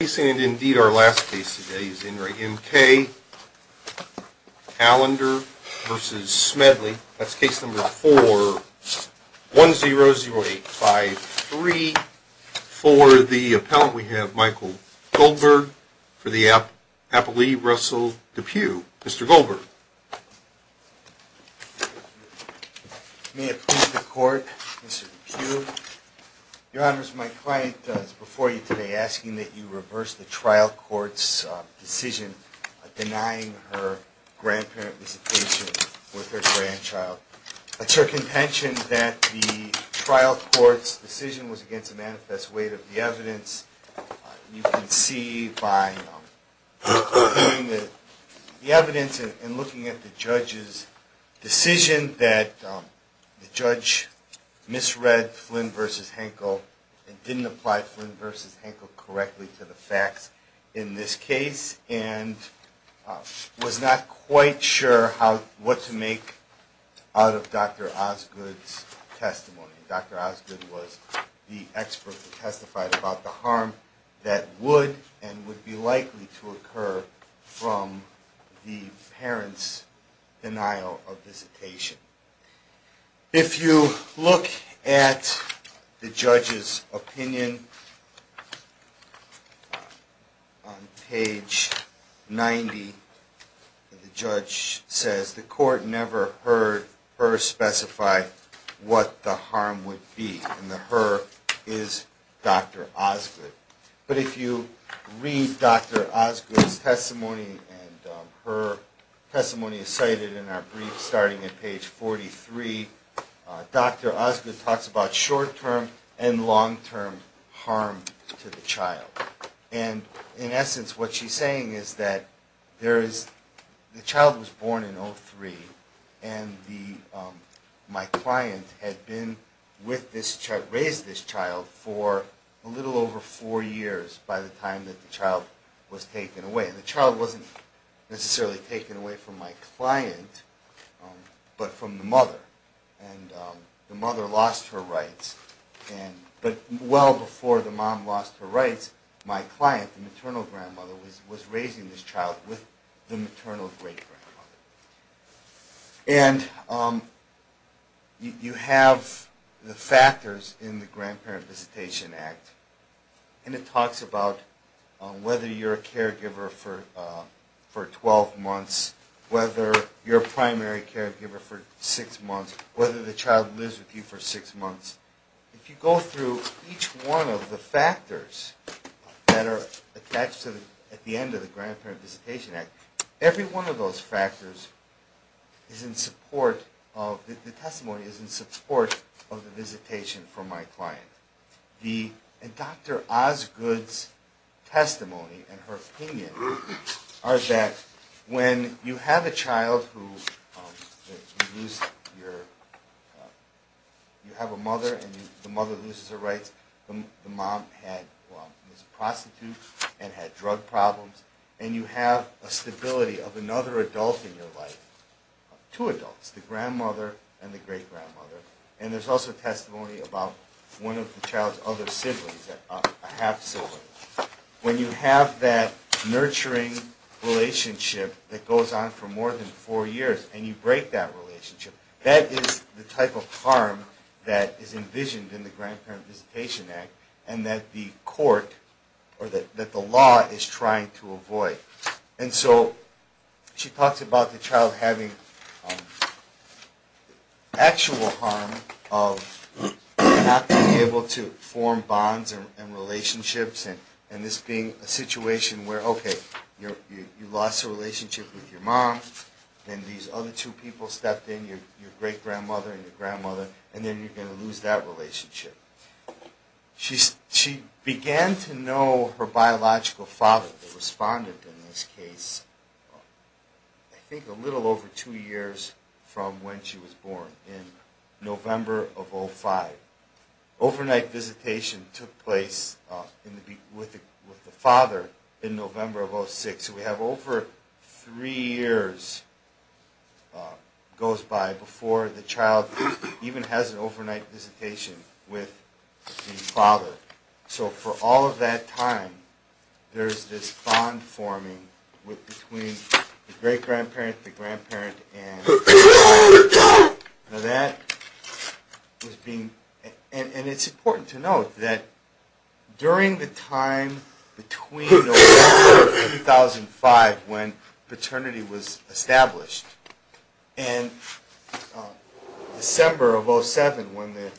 And indeed our last case today is Enright M.K. Allender v. Smedley. That's case number 4-100853. For the appellant we have Michael Goldberg. For the appellee, Russell DePue. Mr. Goldberg. May it please the court, Mr. DePue. Your honors, my client is before you today asking that you reverse the trial court's decision denying her grandparent visitation with her grandchild. I took intention that the trial court's decision was against the manifest weight of the evidence. You can see by looking at the evidence and looking at the judge's decision that the judge misread Flynn v. Henkel and didn't apply Flynn v. Henkel correctly to the facts in this case, and was not quite sure what to make out of Dr. Osgood's testimony. Dr. Osgood was the expert who testified about the harm that would and would be likely to occur from the parent's denial of visitation. If you look at the judge's opinion on page 90, the judge says the court never heard her specify what the harm would be. And the her is Dr. Osgood. But if you read Dr. Osgood's testimony, and her testimony is cited in our brief starting at page 43, Dr. Osgood talks about short-term and long-term harm to the child. And in essence, what she's saying is that the child was born in 2003, and my client had raised this child for a little over four years by the time that the child was taken away. And the child wasn't necessarily taken away from my client, but from the mother. And the mother lost her rights, but well before the mom lost her rights, my client, the maternal grandmother, was raising this child with the maternal great-grandmother. And you have the factors in the Grandparent Visitation Act, and it talks about whether you're a caregiver for 12 months, whether you're a primary caregiver for 6 months, whether the child lives with you for 6 months. If you go through each one of the factors that are attached at the end of the Grandparent Visitation Act, every one of those factors is in support of, the testimony is in support of the visitation for my client. And Dr. Osgood's testimony and her opinion are that when you have a child, you have a mother and the mother loses her rights, the mom was a prostitute and had drug problems, and you have a stability of another adult in your life, two adults, the grandmother and the great-grandmother. And there's also testimony about one of the child's other siblings, a half-sibling. When you have that nurturing relationship that goes on for more than four years, and you break that relationship, that is the type of harm that is envisioned in the Grandparent Visitation Act, and that the court, or that the law, is trying to avoid. And so she talks about the child having actual harm of not being able to form bonds and relationships, and this being a situation where, okay, you lost a relationship with your mom, then these other two people stepped in, your great-grandmother and your grandmother, and then you're going to lose that relationship. She began to know her biological father, the respondent in this case, I think a little over two years from when she was born, in November of 05. Overnight visitation took place with the father in November of 06, so we have over three years goes by before the child even has an overnight visitation with the father. So for all of that time, there's this bond forming between the great-grandparent, the grandparent, and... And it's important to note that during the time between November of 2005, when paternity was established, and December of 07, when the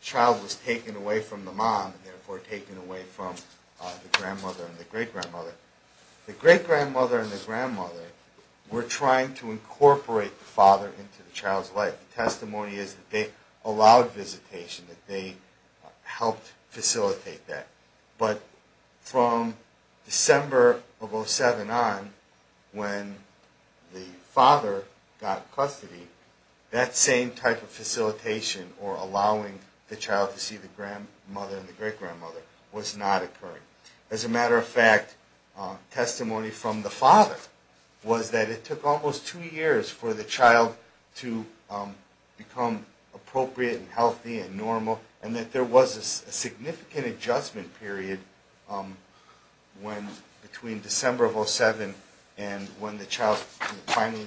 child was taken away from the mom, and therefore taken away from the grandmother and the great-grandmother, the great-grandmother and the grandmother were trying to incorporate the father into the child's life. The testimony is that they allowed visitation, that they helped facilitate that. But from December of 07 on, when the father got custody, that same type of facilitation, or allowing the child to see the grandmother and the great-grandmother, was not occurring. As a matter of fact, testimony from the father was that it took almost two years for the child to become appropriate and healthy and normal, and that there was a significant adjustment period between December of 07 and when the child finally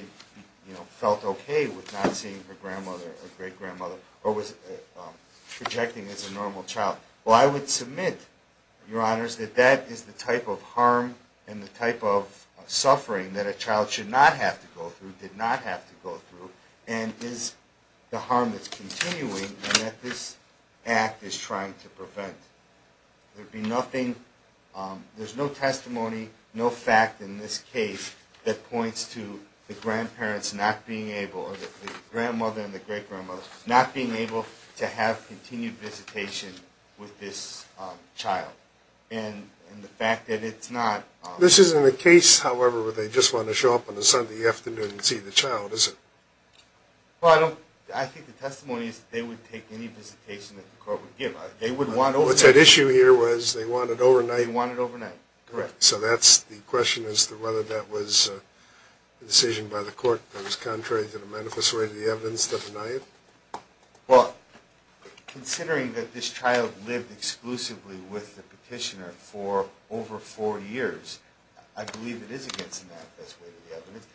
felt okay with not seeing her grandmother or great-grandmother, or was projecting as a normal child. Well, I would submit, Your Honors, that that is the type of harm and the type of suffering that a child should not have to go through, did not have to go through, and is the harm that's continuing, and that this act is trying to prevent. There'd be nothing, there's no testimony, no fact in this case that points to the grandparents not being able, or the grandmother and the great-grandmother, not being able to have continued visitation with this child, and the fact that it's not... This isn't a case, however, where they just want to show up on a Sunday afternoon and see the child, is it? Well, I don't, I think the testimony is that they would take any visitation that the court would give. What's at issue here was they want it overnight? They want it overnight, correct. So that's, the question is whether that was a decision by the court that was contrary to the manifest way of the evidence to deny it? Well, considering that this child lived exclusively with the petitioner for over four years, I believe it is against the manifest way of the evidence,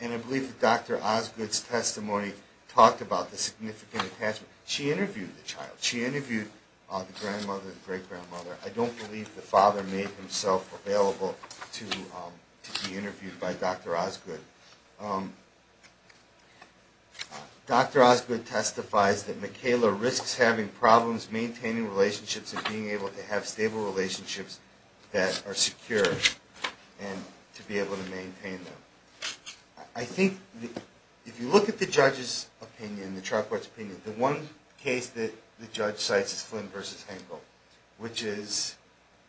and I believe that Dr. Osgood's testimony talked about the significant attachment. She interviewed the child. She interviewed the grandmother and the great-grandmother. I don't believe the father made himself available to be interviewed by Dr. Osgood. Dr. Osgood testifies that Michaela risks having problems maintaining relationships and being able to have stable relationships that are secure, and to be able to maintain them. I think, if you look at the judge's opinion, the trial court's opinion, the one case that the judge cites is Flynn v. Hankel, which is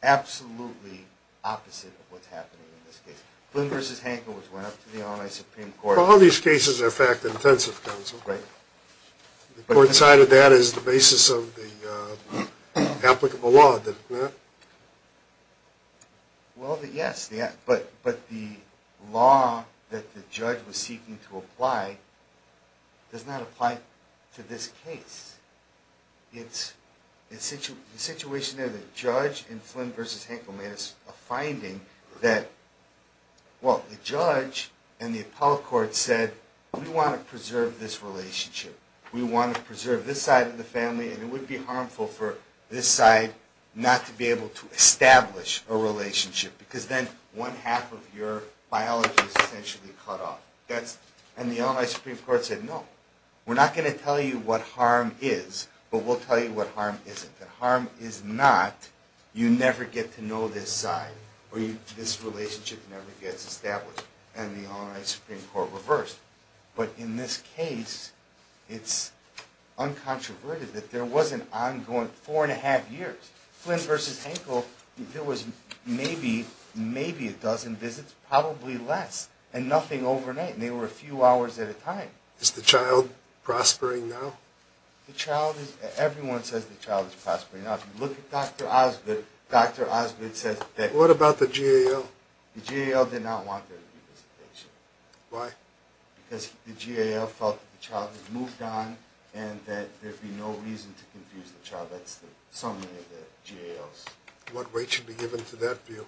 absolutely opposite of what's happening in this case. Flynn v. Hankel, which went up to the Illinois Supreme Court. Well, all these cases are fact-intensive, counsel. Right. The court cited that as the basis of the applicable law, didn't it? Well, yes, but the law that the judge was seeking to apply does not apply to this case. The situation there, the judge in Flynn v. Hankel made a finding that, well, the judge and the appellate court said, we want to preserve this relationship. We want to preserve this side of the family, and it would be harmful for this side not to be able to establish a relationship, because then one half of your biology is essentially cut off. And the Illinois Supreme Court said, no, we're not going to tell you what harm is, but we'll tell you what harm isn't. If harm is not, you never get to know this side, or this relationship never gets established. And the Illinois Supreme Court reversed. But in this case, it's uncontroverted that there was an ongoing four and a half years. Flynn v. Hankel, there was maybe a dozen visits, probably less, and nothing overnight. And they were a few hours at a time. Is the child prospering now? The child is – everyone says the child is prospering now. If you look at Dr. Osgood, Dr. Osgood says that – What about the GAL? The GAL did not want there to be visitation. Why? Because the GAL felt that the child had moved on and that there'd be no reason to confuse the child. That's the summary of the GALs. What weight should be given to that view?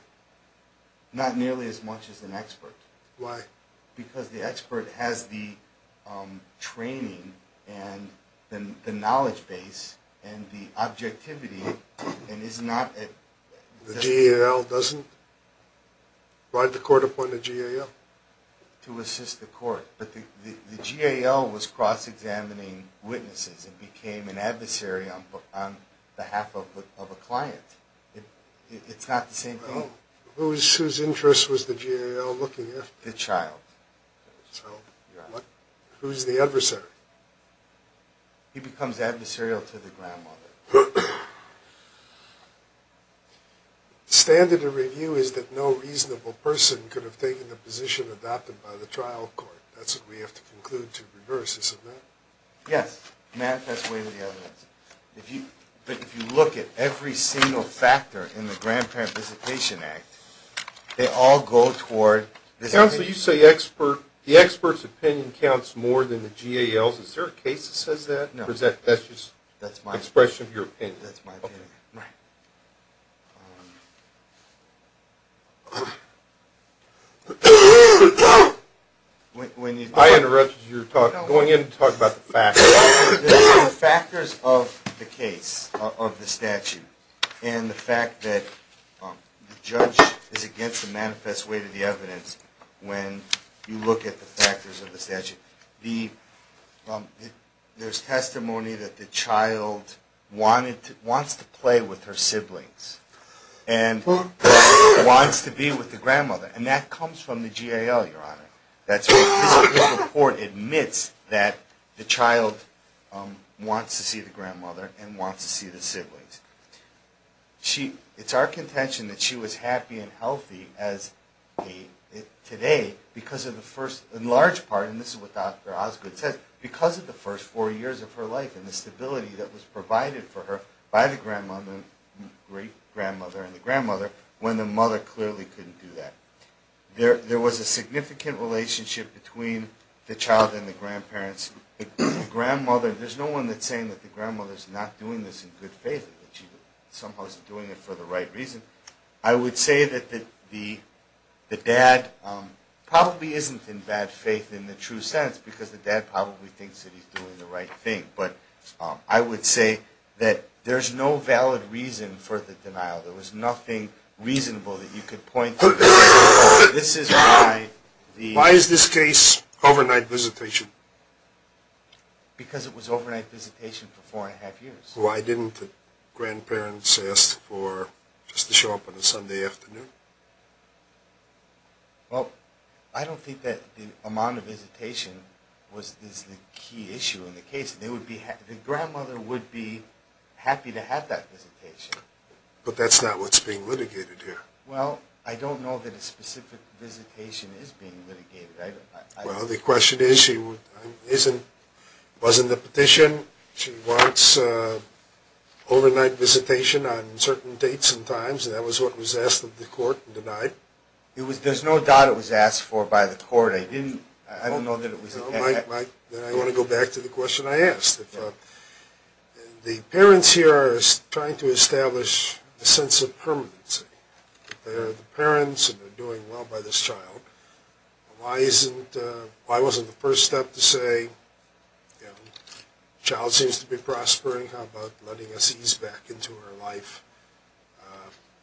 Not nearly as much as an expert. Why? Because the expert has the training and the knowledge base and the objectivity and is not – The GAL doesn't ride the court upon the GAL? To assist the court. But the GAL was cross-examining witnesses and became an adversary on behalf of a client. It's not the same thing? Whose interest was the GAL looking after? The child. So who's the adversary? He becomes adversarial to the grandmother. The standard of review is that no reasonable person could have taken the position adopted by the trial court. That's what we have to conclude to reverse, isn't that? Yes. Manifest way to the evidence. If you look at every single factor in the Grandparent Visitation Act, they all go toward – Counsel, you say the expert's opinion counts more than the GAL's. Is there a case that says that? No. That's just an expression of your opinion. That's my opinion. Right. I interrupted your talk. Go ahead and talk about the factors. The factors of the case, of the statute, and the fact that the judge is against the manifest way to the evidence when you look at the factors of the statute. There's testimony that the child wants to play with her siblings and wants to be with the grandmother. And that comes from the GAL, Your Honor. This report admits that the child wants to see the grandmother and wants to see the siblings. It's our contention that she was happy and healthy today because of the first, in large part, and this is what Dr. Osgood said, because of the first four years of her life and the stability that was provided for her by the grandmother, great-grandmother and the grandmother, when the mother clearly couldn't do that. There was a significant relationship between the child and the grandparents. The grandmother, there's no one that's saying that the grandmother's not doing this in good faith, that she somehow isn't doing it for the right reason. I would say that the dad probably isn't in bad faith in the true sense because the dad probably thinks that he's doing the right thing. But I would say that there's no valid reason for the denial. There was nothing reasonable that you could point to. Why is this case overnight visitation? Because it was overnight visitation for four and a half years. Why didn't the grandparents ask for just to show up on a Sunday afternoon? Well, I don't think that the amount of visitation was the key issue in the case. The grandmother would be happy to have that visitation. But that's not what's being litigated here. Well, I don't know that a specific visitation is being litigated. Well, the question is, it wasn't the petition. She wants overnight visitation on certain dates and times, and that was what was asked of the court and denied. There's no doubt it was asked for by the court. I don't know that it was. The parents here are trying to establish a sense of permanency. They're the parents and they're doing well by this child. Why wasn't the first step to say the child seems to be prospering? How about letting us ease back into her life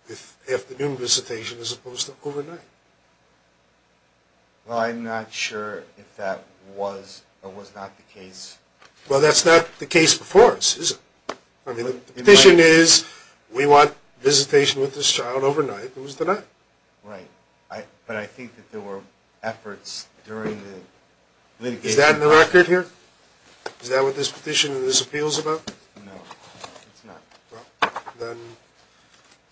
with afternoon visitation as opposed to overnight? Well, I'm not sure if that was or was not the case. Well, that's not the case before us, is it? I mean, the petition is we want visitation with this child overnight. It was denied. Right. But I think that there were efforts during the litigation. Is that in the record here? Is that what this petition and this appeal is about? No, it's not. Well, then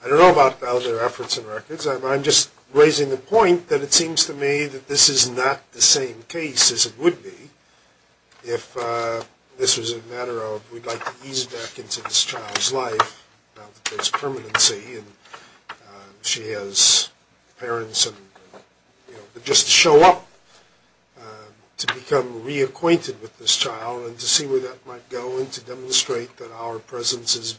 I don't know about other efforts and records. I'm just raising the point that it seems to me that this is not the same case as it would be if this was a matter of we'd like to ease back into this child's life. Now that there's permanency and she has parents and, you know, just to show up to become reacquainted with this child and to see where that might go and to demonstrate that our presence is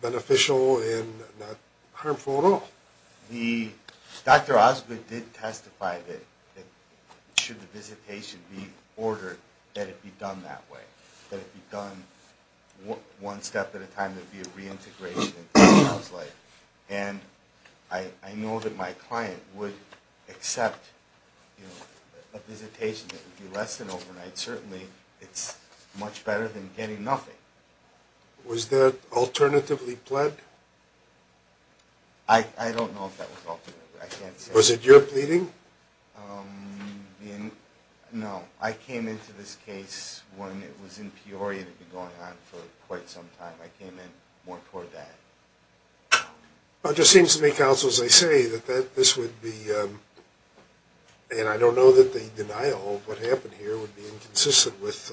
beneficial and not harmful at all. Dr. Osgood did testify that should the visitation be ordered, that it be done that way, that it be done one step at a time, that it be a reintegration into the child's life. And I know that my client would accept a visitation that would be less than overnight. Certainly, it's much better than getting nothing. Was that alternatively pled? I don't know if that was alternative. I can't say. Was it your pleading? No, I came into this case when it was in Peoria that had been going on for quite some time. I came in more toward that. It just seems to me, Counsel, as I say, that this would be, and I don't know that the denial of what happened here would be inconsistent with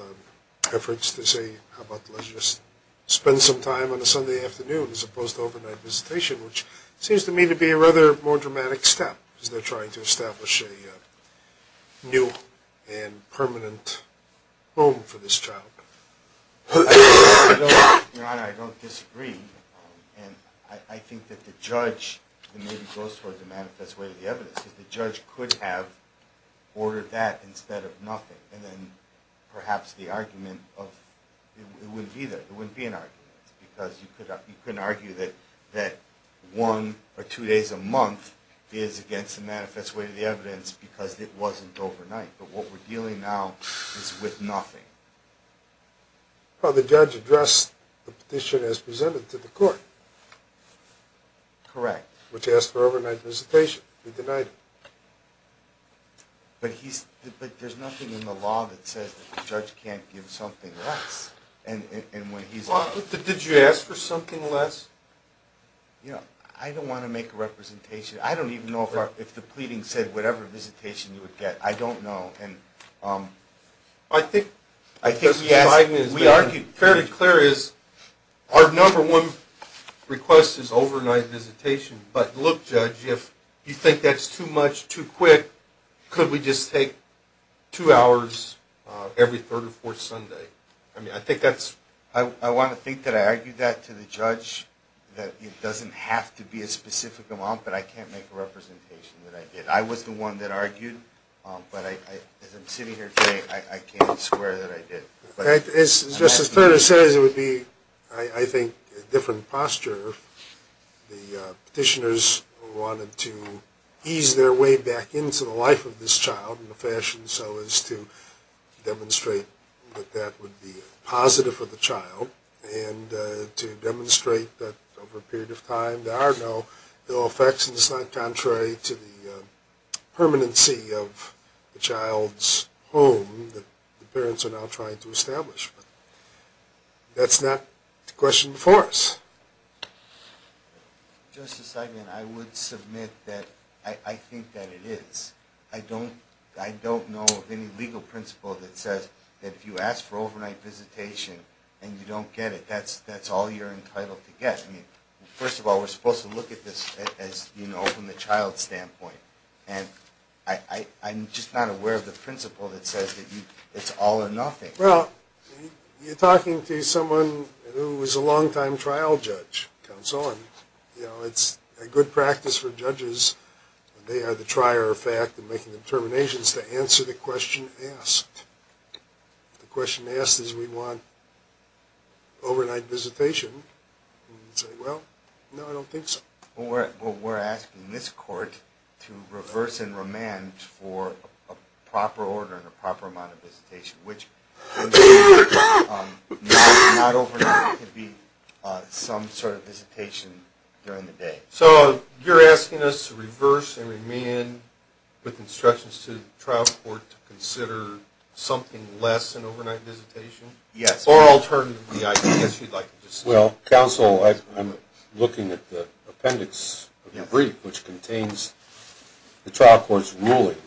efforts to say, how about let's just spend some time on a Sunday afternoon as opposed to overnight visitation, which seems to me to be a rather more dramatic step as they're trying to establish a new and permanent home for this child. Your Honor, I don't disagree. I think that the judge, it maybe goes toward the manifest way of the evidence, that the judge could have ordered that instead of nothing, and then perhaps the argument of, it wouldn't be there, it wouldn't be an argument, because you couldn't argue that one or two days a month is against the manifest way of the evidence because it wasn't overnight. But what we're dealing now is with nothing. Well, the judge addressed the petition as presented to the court. Correct. Which asked for overnight visitation. He denied it. But there's nothing in the law that says that the judge can't give something less. Did you ask for something less? I don't want to make a representation. I don't even know if the pleading said whatever visitation you would get. I don't know. I think we argued fairly clear. Our number one request is overnight visitation. But look, Judge, if you think that's too much, too quick, could we just take two hours every third or fourth Sunday? I want to think that I argued that to the judge, that it doesn't have to be a specific amount, but I can't make a representation that I did. I was the one that argued. But as I'm sitting here today, I can't swear that I did. As Justice Federer says, it would be, I think, a different posture. The petitioners wanted to ease their way back into the life of this child in the fashion so as to demonstrate that that would be positive for the child and to demonstrate that over a period of time there are no ill effects and it's not contrary to the permanency of the child's home that the parents are now trying to establish. But that's not the question before us. Justice Seidman, I would submit that I think that it is. I don't know of any legal principle that says that if you ask for overnight visitation and you don't get it, that's all you're entitled to get. First of all, we're supposed to look at this as, you know, from the child's standpoint. And I'm just not aware of the principle that says that it's all or nothing. Well, you're talking to someone who is a longtime trial judge. It's a good practice for judges. They are the trier of fact in making determinations to answer the question asked. The question asked is we want overnight visitation. And you say, well, no, I don't think so. Well, we're asking this court to reverse and remand for a proper order and a proper amount of visitation, which not overnight could be some sort of visitation during the day. So you're asking us to reverse and remand with instructions to the trial court to consider something less than overnight visitation? Yes. Or alternatively, I guess you'd like to just say. Well, counsel, I'm looking at the appendix of your brief, which contains the trial court's ruling.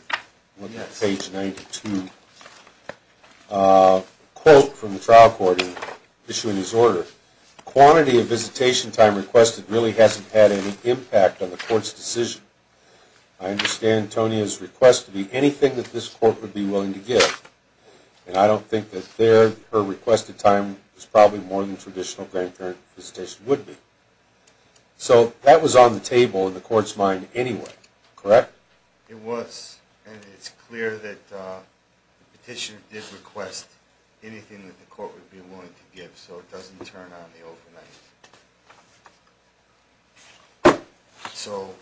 Look at page 92. A quote from the trial court issuing this order. The quantity of visitation time requested really hasn't had any impact on the court's decision. I understand Tonya's request to be anything that this court would be willing to give. And I don't think that her requested time is probably more than traditional grandparent visitation would be. So that was on the table in the court's mind anyway, correct? It was. And it's clear that the petitioner did request anything that the court would be willing to give so it doesn't turn on the overnight. So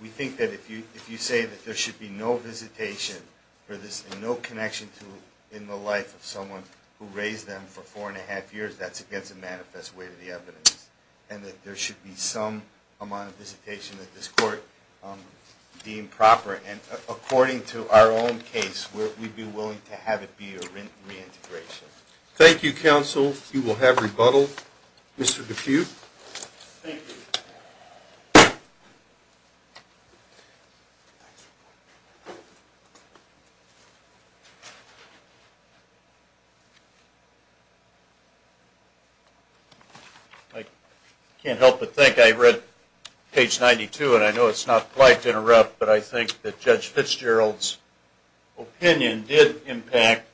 we think that if you say that there should be no visitation for this and no connection in the life of someone who raised them for four and a half years, that's against the manifest way of the evidence. And that there should be some amount of visitation that this court deemed proper. And according to our own case, we'd be willing to have it be a reintegration. Thank you, counsel. You will have rebuttal. Mr. Defuse? Thank you. I can't help but think I read page 92, and I know it's not polite to interrupt, but I think that Judge Fitzgerald's opinion did impact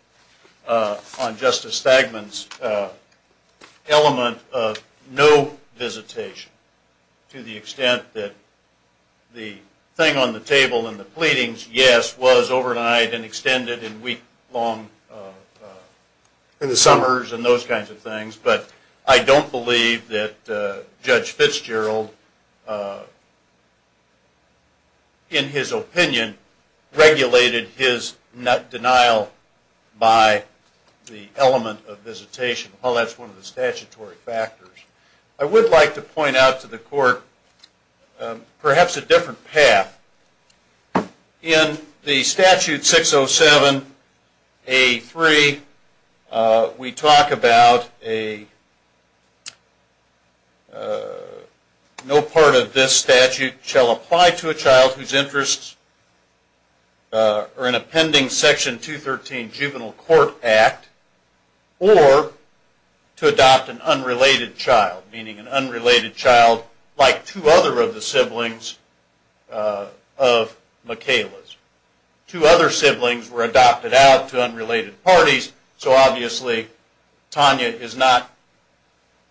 on Justice Thagmann's element of no visitation to the extent that the thing on the table in the pleadings, yes, was overnight and extended in week-long in the summers and those kinds of things, but I don't believe that Judge Fitzgerald, in his opinion, regulated his denial by the element of visitation. Well, that's one of the statutory factors. I would like to point out to the court perhaps a different path. In the Statute 607A3, we talk about no part of this statute shall apply to a child whose interests are in a pending Section 213 Juvenile Court Act or to adopt an unrelated child, meaning an unrelated child like two other of the siblings of Michaela's. Two other siblings were adopted out to unrelated parties, so obviously Tanya is not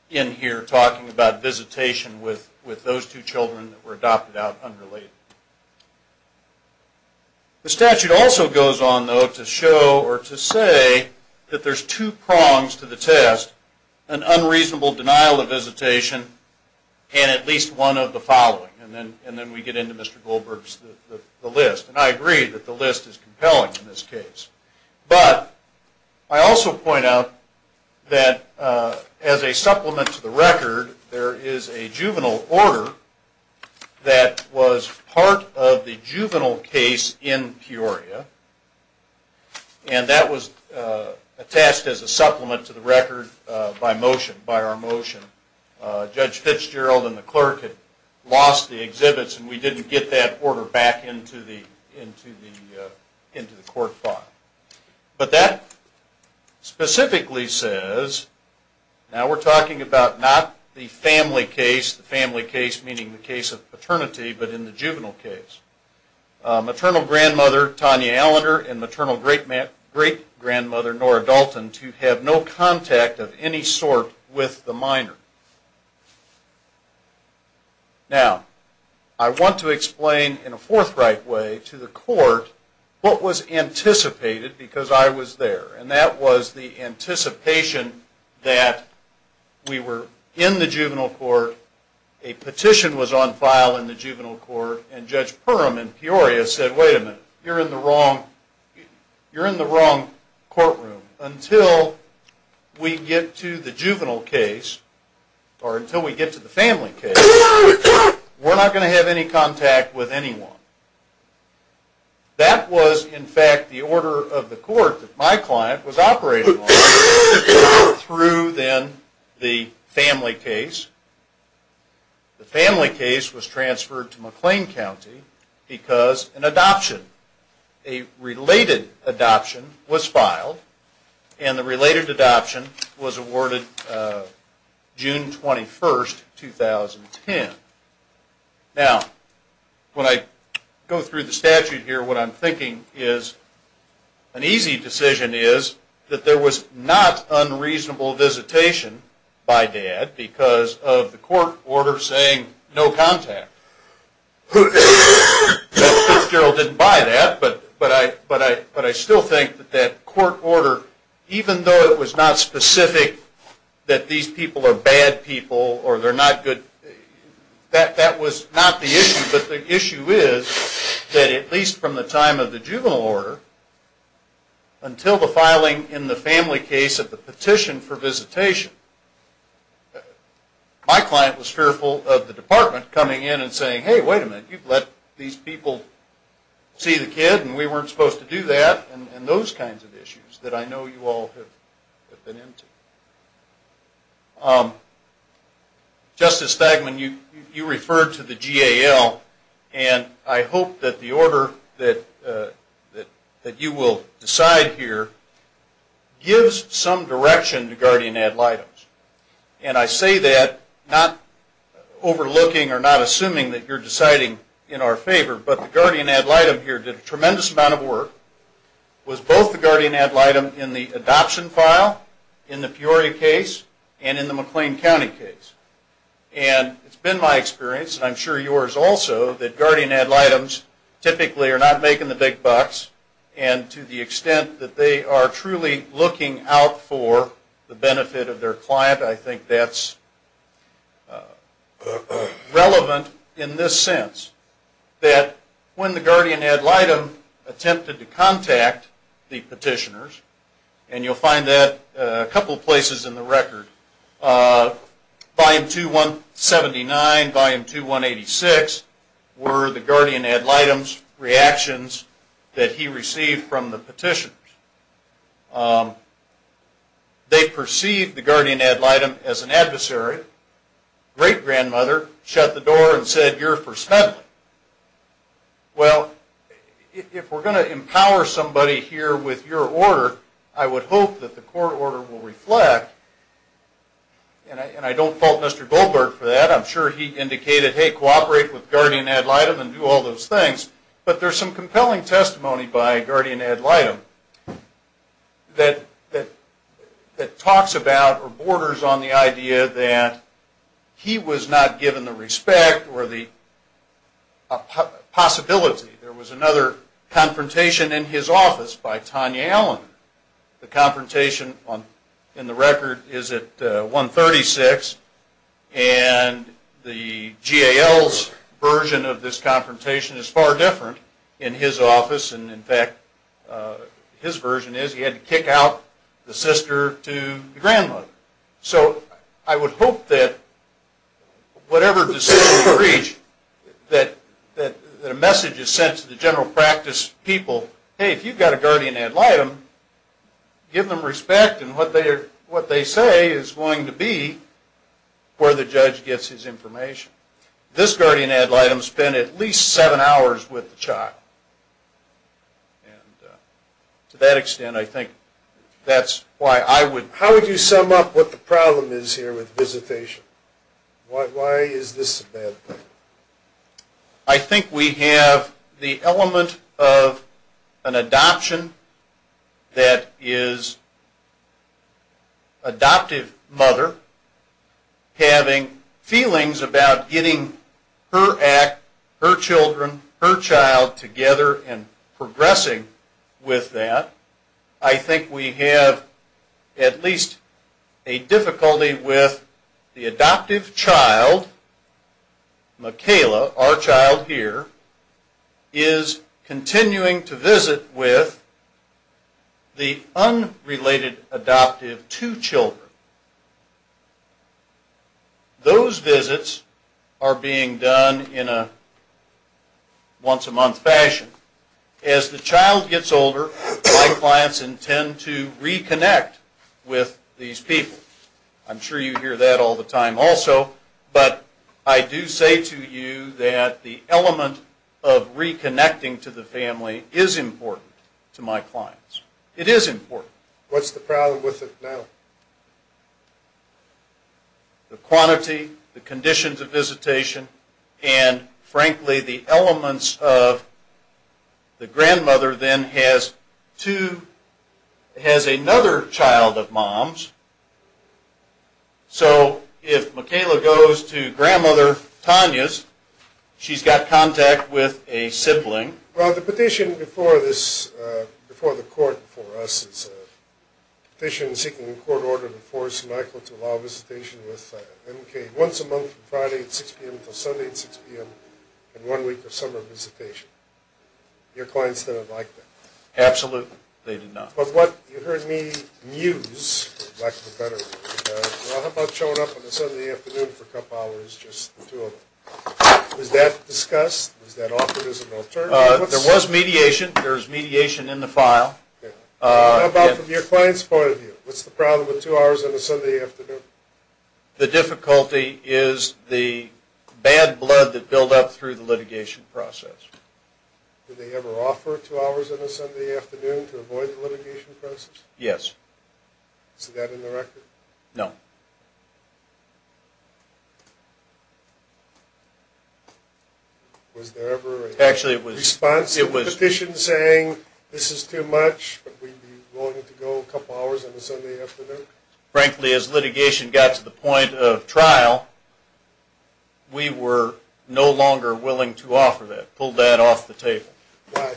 in here talking about visitation with those two children that were adopted out unrelated. The statute also goes on, though, to show or to say that there's two prongs to the test, an unreasonable denial of visitation and at least one of the following, and then we get into Mr. Goldberg's list, and I agree that the list is compelling in this case. But I also point out that as a supplement to the record, there is a juvenile order that was part of the juvenile case in Peoria, and that was attached as a supplement to the record by motion, by our motion. Judge Fitzgerald and the clerk had lost the exhibits and we didn't get that order back into the court file. But that specifically says, now we're talking about not the family case, the family case meaning the case of paternity, but in the juvenile case. Maternal grandmother Tanya Allender and maternal great-grandmother Nora Dalton to have no contact of any sort with the minor. Now, I want to explain in a forthright way to the court what was anticipated because I was there, and that was the anticipation that we were in the juvenile court, a petition was on file in the juvenile court, and Judge Perum in Peoria said, wait a minute, you're in the wrong courtroom. Until we get to the juvenile case, or until we get to the family case, we're not going to have any contact with anyone. That was, in fact, the order of the court that my client was operating on through then the family case. The family case was transferred to McLean County because an adoption, a related adoption was filed, and the related adoption was awarded June 21, 2010. Now, when I go through the statute here, what I'm thinking is, an easy decision is that there was not unreasonable visitation by Dad because of the court order saying no contact. Judge Fitzgerald didn't buy that, but I still think that that court order, even though it was not specific that these people are bad people or they're not good, that was not the issue, but the issue is that at least from the time of the juvenile order until the filing in the family case of the petition for visitation, my client was fearful of the department coming in and saying, hey, wait a minute, you've let these people see the kid and we weren't supposed to do that, and those kinds of issues that I know you all have been into. Justice Stagman, you referred to the GAL, and I hope that the order that you will decide here gives some direction to guardian ad litems, and I say that not overlooking or not assuming that you're deciding in our favor, but the guardian ad litem here did a tremendous amount of work, was both the guardian ad litem in the adoption file in the Peoria case and in the McLean County case, and it's been my experience, and I'm sure yours also, that guardian ad litems typically are not making the big bucks, and to the extent that they are truly looking out for the benefit of their client, I think that's relevant in this sense, that when the guardian ad litem attempted to contact the petitioners, and you'll find that a couple of places in the record, volume 279, volume 2186 were the guardian ad litem's reactions that he received from the petitioners. They perceived the guardian ad litem as an adversary. Great-grandmother shut the door and said, you're for Smedley. Well, if we're going to empower somebody here with your order, I would hope that the court order will reflect, and I don't fault Mr. Goldberg for that. I'm sure he indicated, hey, cooperate with guardian ad litem and do all those things, but there's some compelling testimony by guardian ad litem that talks about or borders on the idea that he was not given the respect or the possibility. There was another confrontation in his office by Tanya Allen. The confrontation in the record is at 136, and the GAL's version of this confrontation is far different in his office, and in fact, his version is he had to kick out the sister to the grandmother. So I would hope that whatever decision is reached, that a message is sent to the general practice people, hey, if you've got a guardian ad litem, give them respect, and what they say is going to be where the judge gets his information. This guardian ad litem spent at least seven hours with the child, and to that extent, I think that's why I would... How would you sum up what the problem is here with visitation? Why is this a bad thing? I think we have the element of an adoption that is adoptive mother having feelings about getting her act, her children, her child together and progressing with that. I think we have at least a difficulty with the adoptive child, Michaela, our child here, is continuing to visit with the unrelated adoptive two children. Those visits are being done in a once a month fashion. As the child gets older, my clients intend to reconnect with these people. I'm sure you hear that all the time also, but I do say to you that the element of reconnecting to the family is important to my clients. It is important. What's the problem with it now? The quantity, the conditions of visitation, and frankly, the elements of the grandmother then has another child of mom's. So if Michaela goes to grandmother Tanya's, she's got contact with a sibling. Well, the petition before the court for us is a petition seeking court order to force Michael to allow visitation with MK once a month from Friday at 6 p.m. until Sunday at 6 p.m. and one week of summer visitation. Your clients didn't like that. Absolutely, they did not. But what you heard me muse, for lack of a better word, how about showing up on a Sunday afternoon for a couple hours just the two of them. Was that discussed? Was that offered as an alternative? There was mediation. There was mediation in the file. How about from your client's point of view? What's the problem with two hours on a Sunday afternoon? The difficulty is the bad blood that builds up through the litigation process. Did they ever offer two hours on a Sunday afternoon to avoid the litigation process? Yes. Is that in the record? No. Was there ever a response to the petition saying, this is too much, but we'd be willing to go a couple hours on a Sunday afternoon? Frankly, as litigation got to the point of trial, we were no longer willing to offer that, pull that off the table. Why?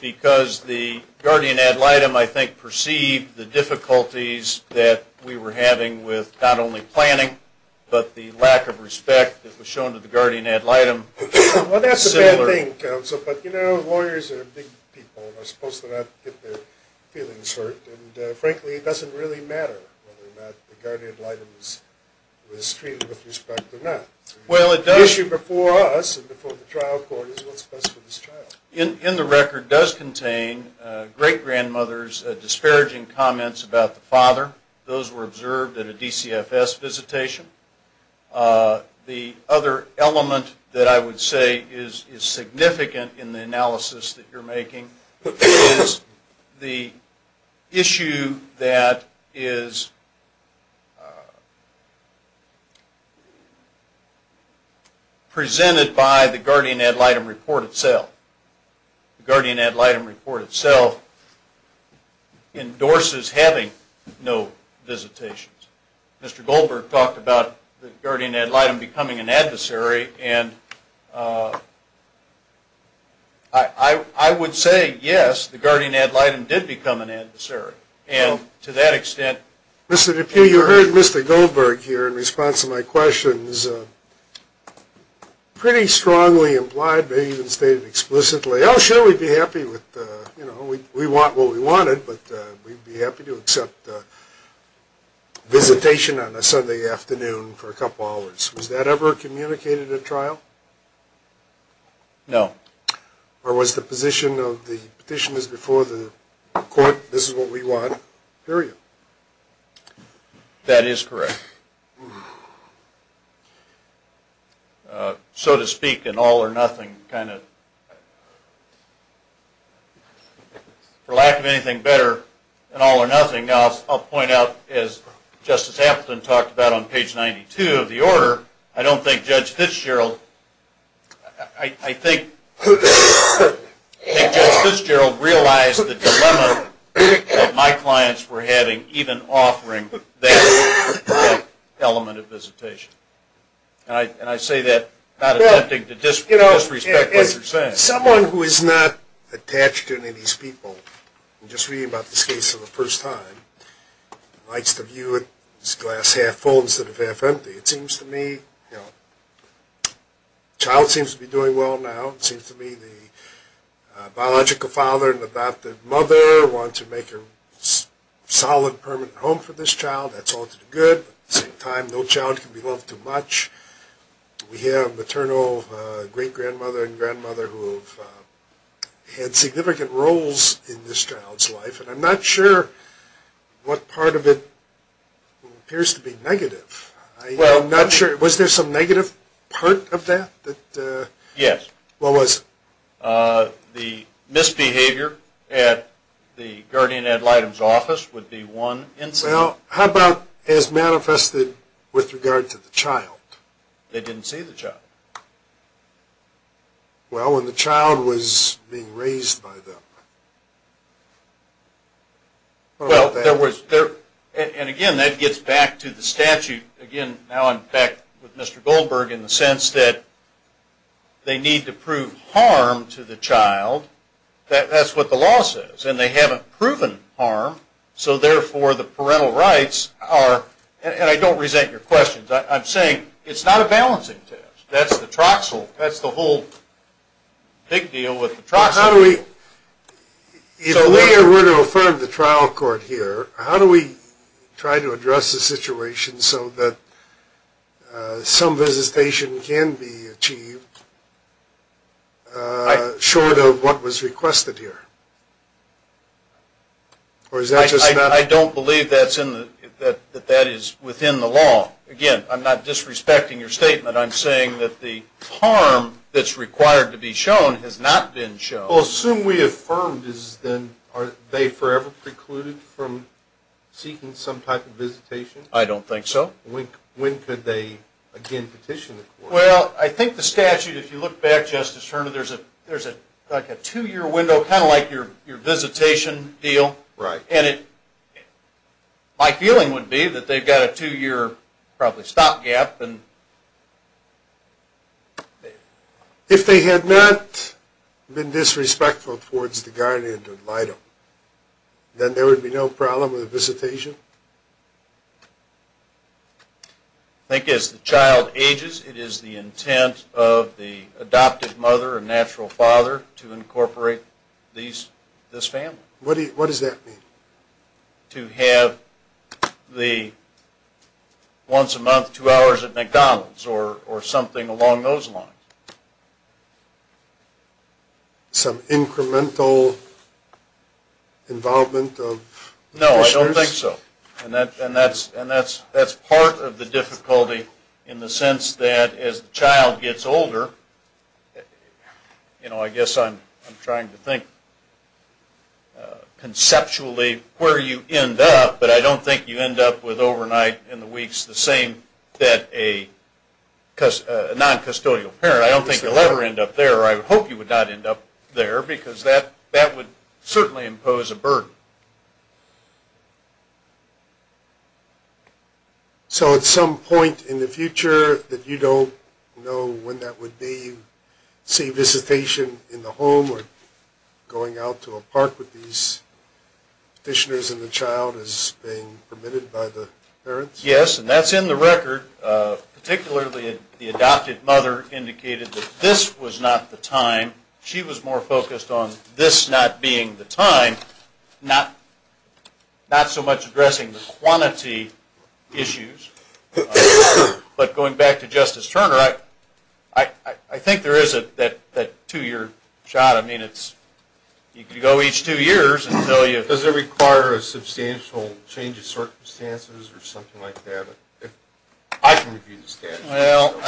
Because the guardian ad litem, I think, perceived the difficulties that we were having with not only planning, but the lack of respect that was shown to the guardian ad litem. Well, that's a bad thing, counsel. But, you know, lawyers are big people and are supposed to not get their feelings hurt. And, frankly, it doesn't really matter whether or not the guardian ad litem is treated with respect or not. The issue before us and before the trial court is what's best for this child. In the record does contain great-grandmother's disparaging comments about the father. Those were observed at a DCFS visitation. The other element that I would say is significant in the analysis that you're making is the issue that is presented by the guardian ad litem report itself. The guardian ad litem report itself endorses having no visitations. Mr. Goldberg talked about the guardian ad litem becoming an adversary. And I would say, yes, the guardian ad litem did become an adversary. And to that extent... Mr. DePue, you heard Mr. Goldberg here in response to my questions pretty strongly implied, maybe even stated explicitly, oh, sure, we'd be happy with, you know, we want what we wanted, but we'd be happy to accept visitation on a Sunday afternoon for a couple hours. Was that ever communicated at trial? No. Or was the position of the petitioners before the court, this is what we want, period? That is correct. So to speak, an all or nothing kind of... For lack of anything better, an all or nothing, I'll point out, as Justice Appleton talked about on page 92 of the order, I don't think Judge Fitzgerald realized the dilemma that my clients were having even offering that element of visitation. And I say that not attempting to disrespect what you're saying. Someone who is not attached to any of these people, I'm just reading about this case for the first time, likes to view it as glass half full instead of half empty. It seems to me, you know, the child seems to be doing well now. It seems to me the biological father and the adopted mother want to make a solid, permanent home for this child. That's all for the good. At the same time, no child can be loved too much. We have a maternal great-grandmother and grandmother who have had significant roles in this child's life, and I'm not sure what part of it appears to be negative. Was there some negative part of that? Yes. What was it? The misbehavior at the guardian ad litem's office would be one incident. Well, how about as manifested with regard to the child? They didn't see the child. Well, when the child was being raised by them. And, again, that gets back to the statute. Again, now I'm back with Mr. Goldberg in the sense that they need to prove harm to the child. That's what the law says. And they haven't proven harm, so, therefore, the parental rights are, and I don't resent your questions, I'm saying it's not a balancing test. That's the whole big deal with the Troxel. If we were to affirm the trial court here, how do we try to address the situation so that some visitation can be achieved short of what was requested here? I don't believe that that is within the law. Again, I'm not disrespecting your statement. I'm saying that the harm that's required to be shown has not been shown. Well, assume we affirmed. Are they forever precluded from seeking some type of visitation? I don't think so. When could they again petition the court? Well, I think the statute, if you look back, Justice Turner, there's a two-year window, kind of like your visitation deal, and my feeling would be that they've got a two-year probably stopgap. If they had not been disrespectful towards the guardian, then there would be no problem with the visitation? I think as the child ages, it is the intent of the adoptive mother and natural father to incorporate this family. What does that mean? To have the once a month, two hours at McDonald's or something along those lines. Some incremental involvement of officials? No, I don't think so. And that's part of the difficulty in the sense that as the child gets older, I guess I'm trying to think conceptually where you end up, but I don't think you end up with overnight in the weeks the same that a non-custodial parent. I don't think you'll ever end up there. I would hope you would not end up there because that would certainly impose a burden. So at some point in the future that you don't know when that would be, you see visitation in the home or going out to a park with these petitioners and the child is being permitted by the parents? Yes, and that's in the record. Particularly the adoptive mother indicated that this was not the time. She was more focused on this not being the time, not so much addressing the quantity issues. But going back to Justice Turner, I think there is that two-year shot. You can go each two years. Does it require a substantial change of circumstances or something like that? I can review the statute. Well,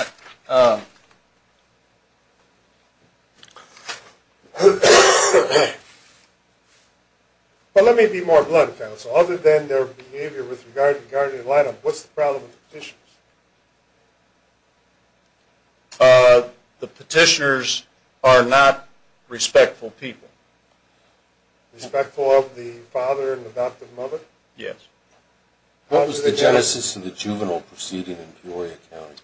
let me be more blunt, counsel. Other than their behavior with regard to the guardian line-up, what's the problem with the petitioners? The petitioners are not respectful people. Respectful of the father and adoptive mother? Yes. What was the genesis of the juvenile proceeding in Peoria County?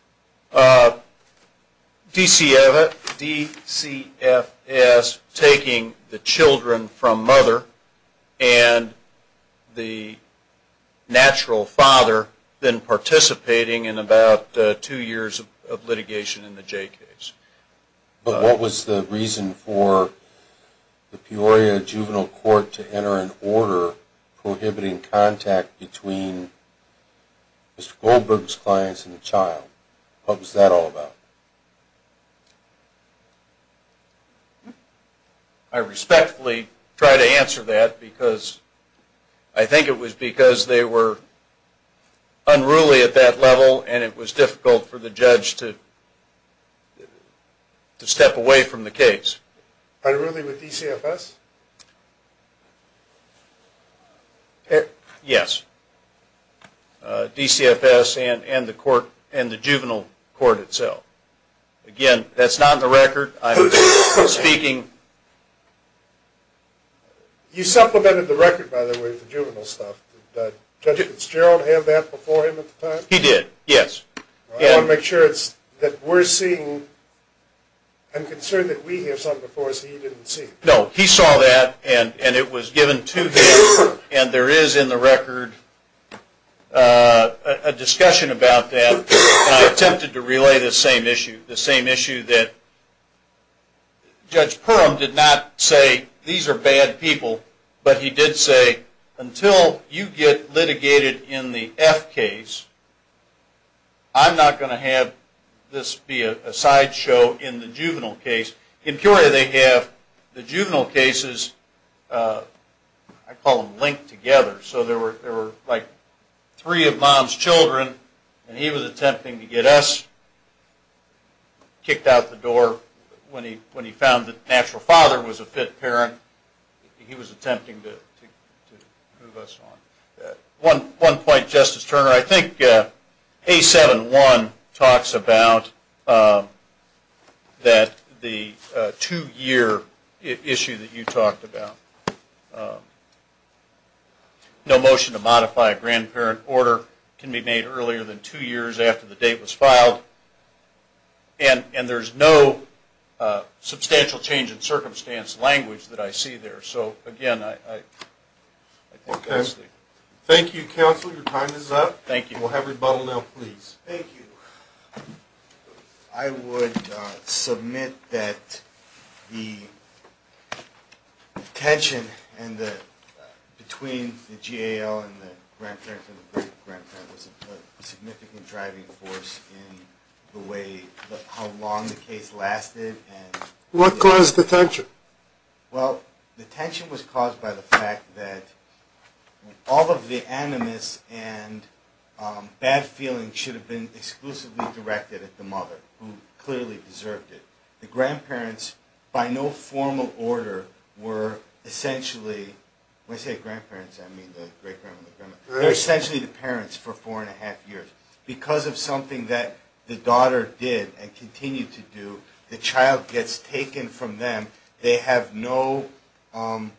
DCFS taking the children from mother and the natural father, then participating in about two years of litigation in the J case. But what was the reason for the Peoria Juvenile Court to enter an order prohibiting contact between Mr. Goldberg's clients and the child? What was that all about? I respectfully try to answer that because I think it was because they were unruly at that level and it was difficult for the judge to step away from the case. Unruly with DCFS? Yes. DCFS and the juvenile court itself. Again, that's not in the record. You supplemented the record, by the way, with the juvenile stuff. Did Judge Fitzgerald have that before him at the time? He did, yes. I want to make sure that we're seeing. I'm concerned that we have something before us that he didn't see. No, he saw that and it was given to him and there is in the record a discussion about that and I attempted to relay the same issue. The same issue that Judge Perum did not say these are bad people, but he did say until you get litigated in the F case, I'm not going to have this be a sideshow in the juvenile case. In Curia they have the juvenile cases, I call them linked together. So there were like three of mom's children and he was attempting to get us kicked out the door when he found that the natural father was a fit parent. He was attempting to move us on. One point, Justice Turner. I think A7-1 talks about the two-year issue that you talked about. No motion to modify a grandparent order can be made earlier than two years after the date was filed and there's no substantial change in circumstance or language that I see there. Thank you, counsel. Your time is up. We'll have rebuttal now, please. Thank you. I would submit that the tension between the GAL and the grandparent was a significant driving force in how long the case lasted. What caused the tension? Well, the tension was caused by the fact that all of the animus and bad feelings should have been exclusively directed at the mother, who clearly deserved it. The grandparents, by no formal order, were essentially the parents for four and a half years. Because of something that the daughter did and continued to do, the child gets taken from them. And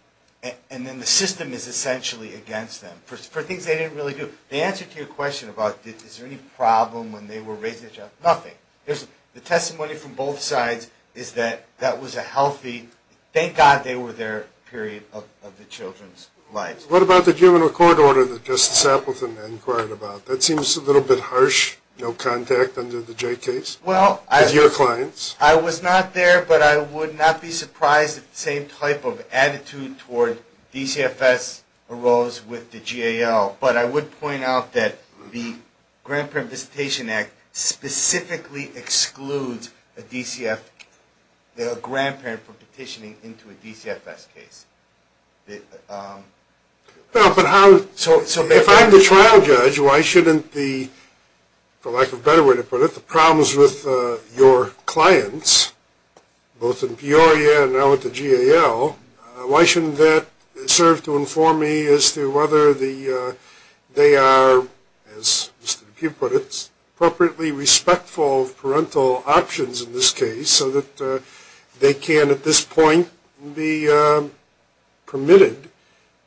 then the system is essentially against them for things they didn't really do. The answer to your question about is there any problem when they were raising the child, nothing. The testimony from both sides is that that was a healthy, thank God they were there period of the children's lives. What about the juvenile court order that Justice Appleton inquired about? That seems a little bit harsh, no contact under the Jay case with your clients. I was not there, but I would not be surprised if the same type of attitude toward DCFS arose with the GAL. But I would point out that the Grandparent Visitation Act specifically excludes a grandparent from petitioning into a DCFS case. So if I'm the trial judge, why shouldn't the, for lack of a better way to put it, the problems with your clients, both in Peoria and now with the GAL, why shouldn't that serve to inform me as to whether they are, as Mr. Dupuy put it, appropriately respectful of parental options in this case so that they can at this point be permitted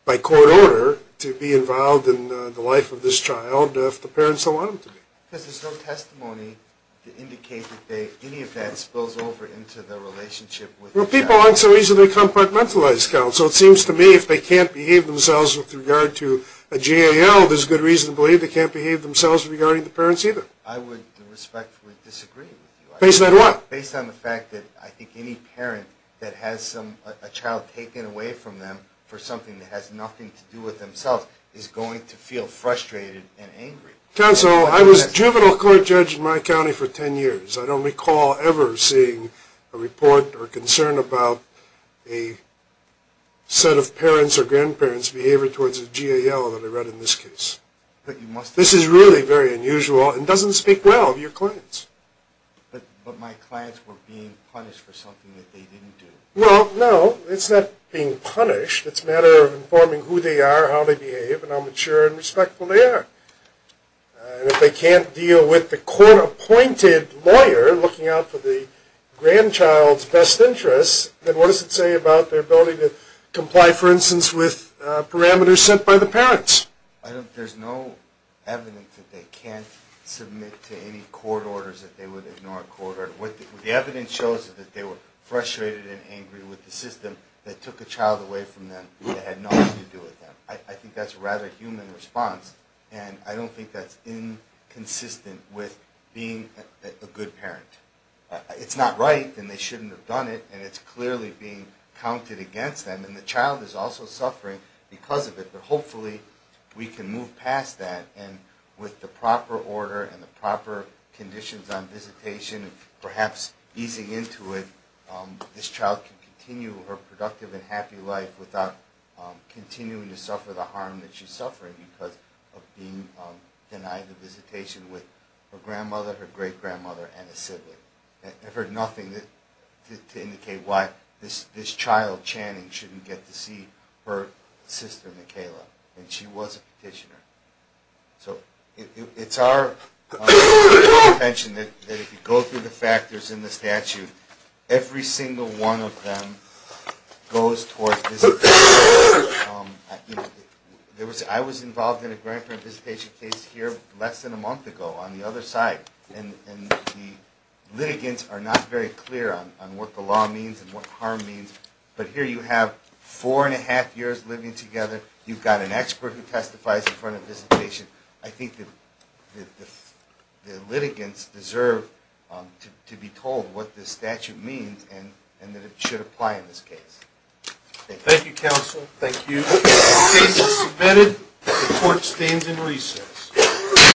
by court order to be involved in the life of this child if the parents allow them to be. Because there's no testimony to indicate that any of that spills over into the relationship with the child. Well, people aren't so easily compartmentalized, counsel. It seems to me if they can't behave themselves with regard to a GAL, there's good reason to believe they can't behave themselves regarding the parents either. I would respectfully disagree with you. Based on what? Based on the fact that I think any parent that has a child taken away from them for something that has nothing to do with themselves is going to feel frustrated and angry. Counsel, I was a juvenile court judge in my county for 10 years. I don't recall ever seeing a report or concern about a set of parents or grandparents' behavior towards a GAL that I read in this case. This is really very unusual and doesn't speak well of your clients. But my clients were being punished for something that they didn't do. Well, no. It's not being punished. It's a matter of informing who they are, how they behave, and how mature and respectful they are. And if they can't deal with the court-appointed lawyer looking out for the grandchild's best interests, then what does it say about their ability to comply, for instance, with parameters set by the parents? There's no evidence that they can't submit to any court orders that they would ignore a court order. The evidence shows that they were frustrated and angry with the system that took a child away from them that had nothing to do with them. I think that's a rather human response, and I don't think that's inconsistent with being a good parent. It's not right, and they shouldn't have done it, and it's clearly being counted against them. And the child is also suffering because of it, but hopefully we can move past that and with the proper order and the proper conditions on visitation, perhaps easing into it, this child can continue her productive and happy life without continuing to suffer the harm that she's suffering because of being denied the visitation with her grandmother, her great-grandmother, and a sibling. I've heard nothing to indicate why this child, Channing, shouldn't get to see her sister, Michaela. And she was a petitioner. So it's our intention that if you go through the factors in the statute, every single one of them goes towards visitation. I was involved in a grandparent visitation case here less than a month ago on the other side, and the litigants are not very clear on what the law means and what harm means. But here you have four and a half years living together. You've got an expert who testifies in front of visitation. I think the litigants deserve to be told what this statute means and that it should apply in this case. Thank you, counsel. Thank you. The case is submitted. The court stands in recess.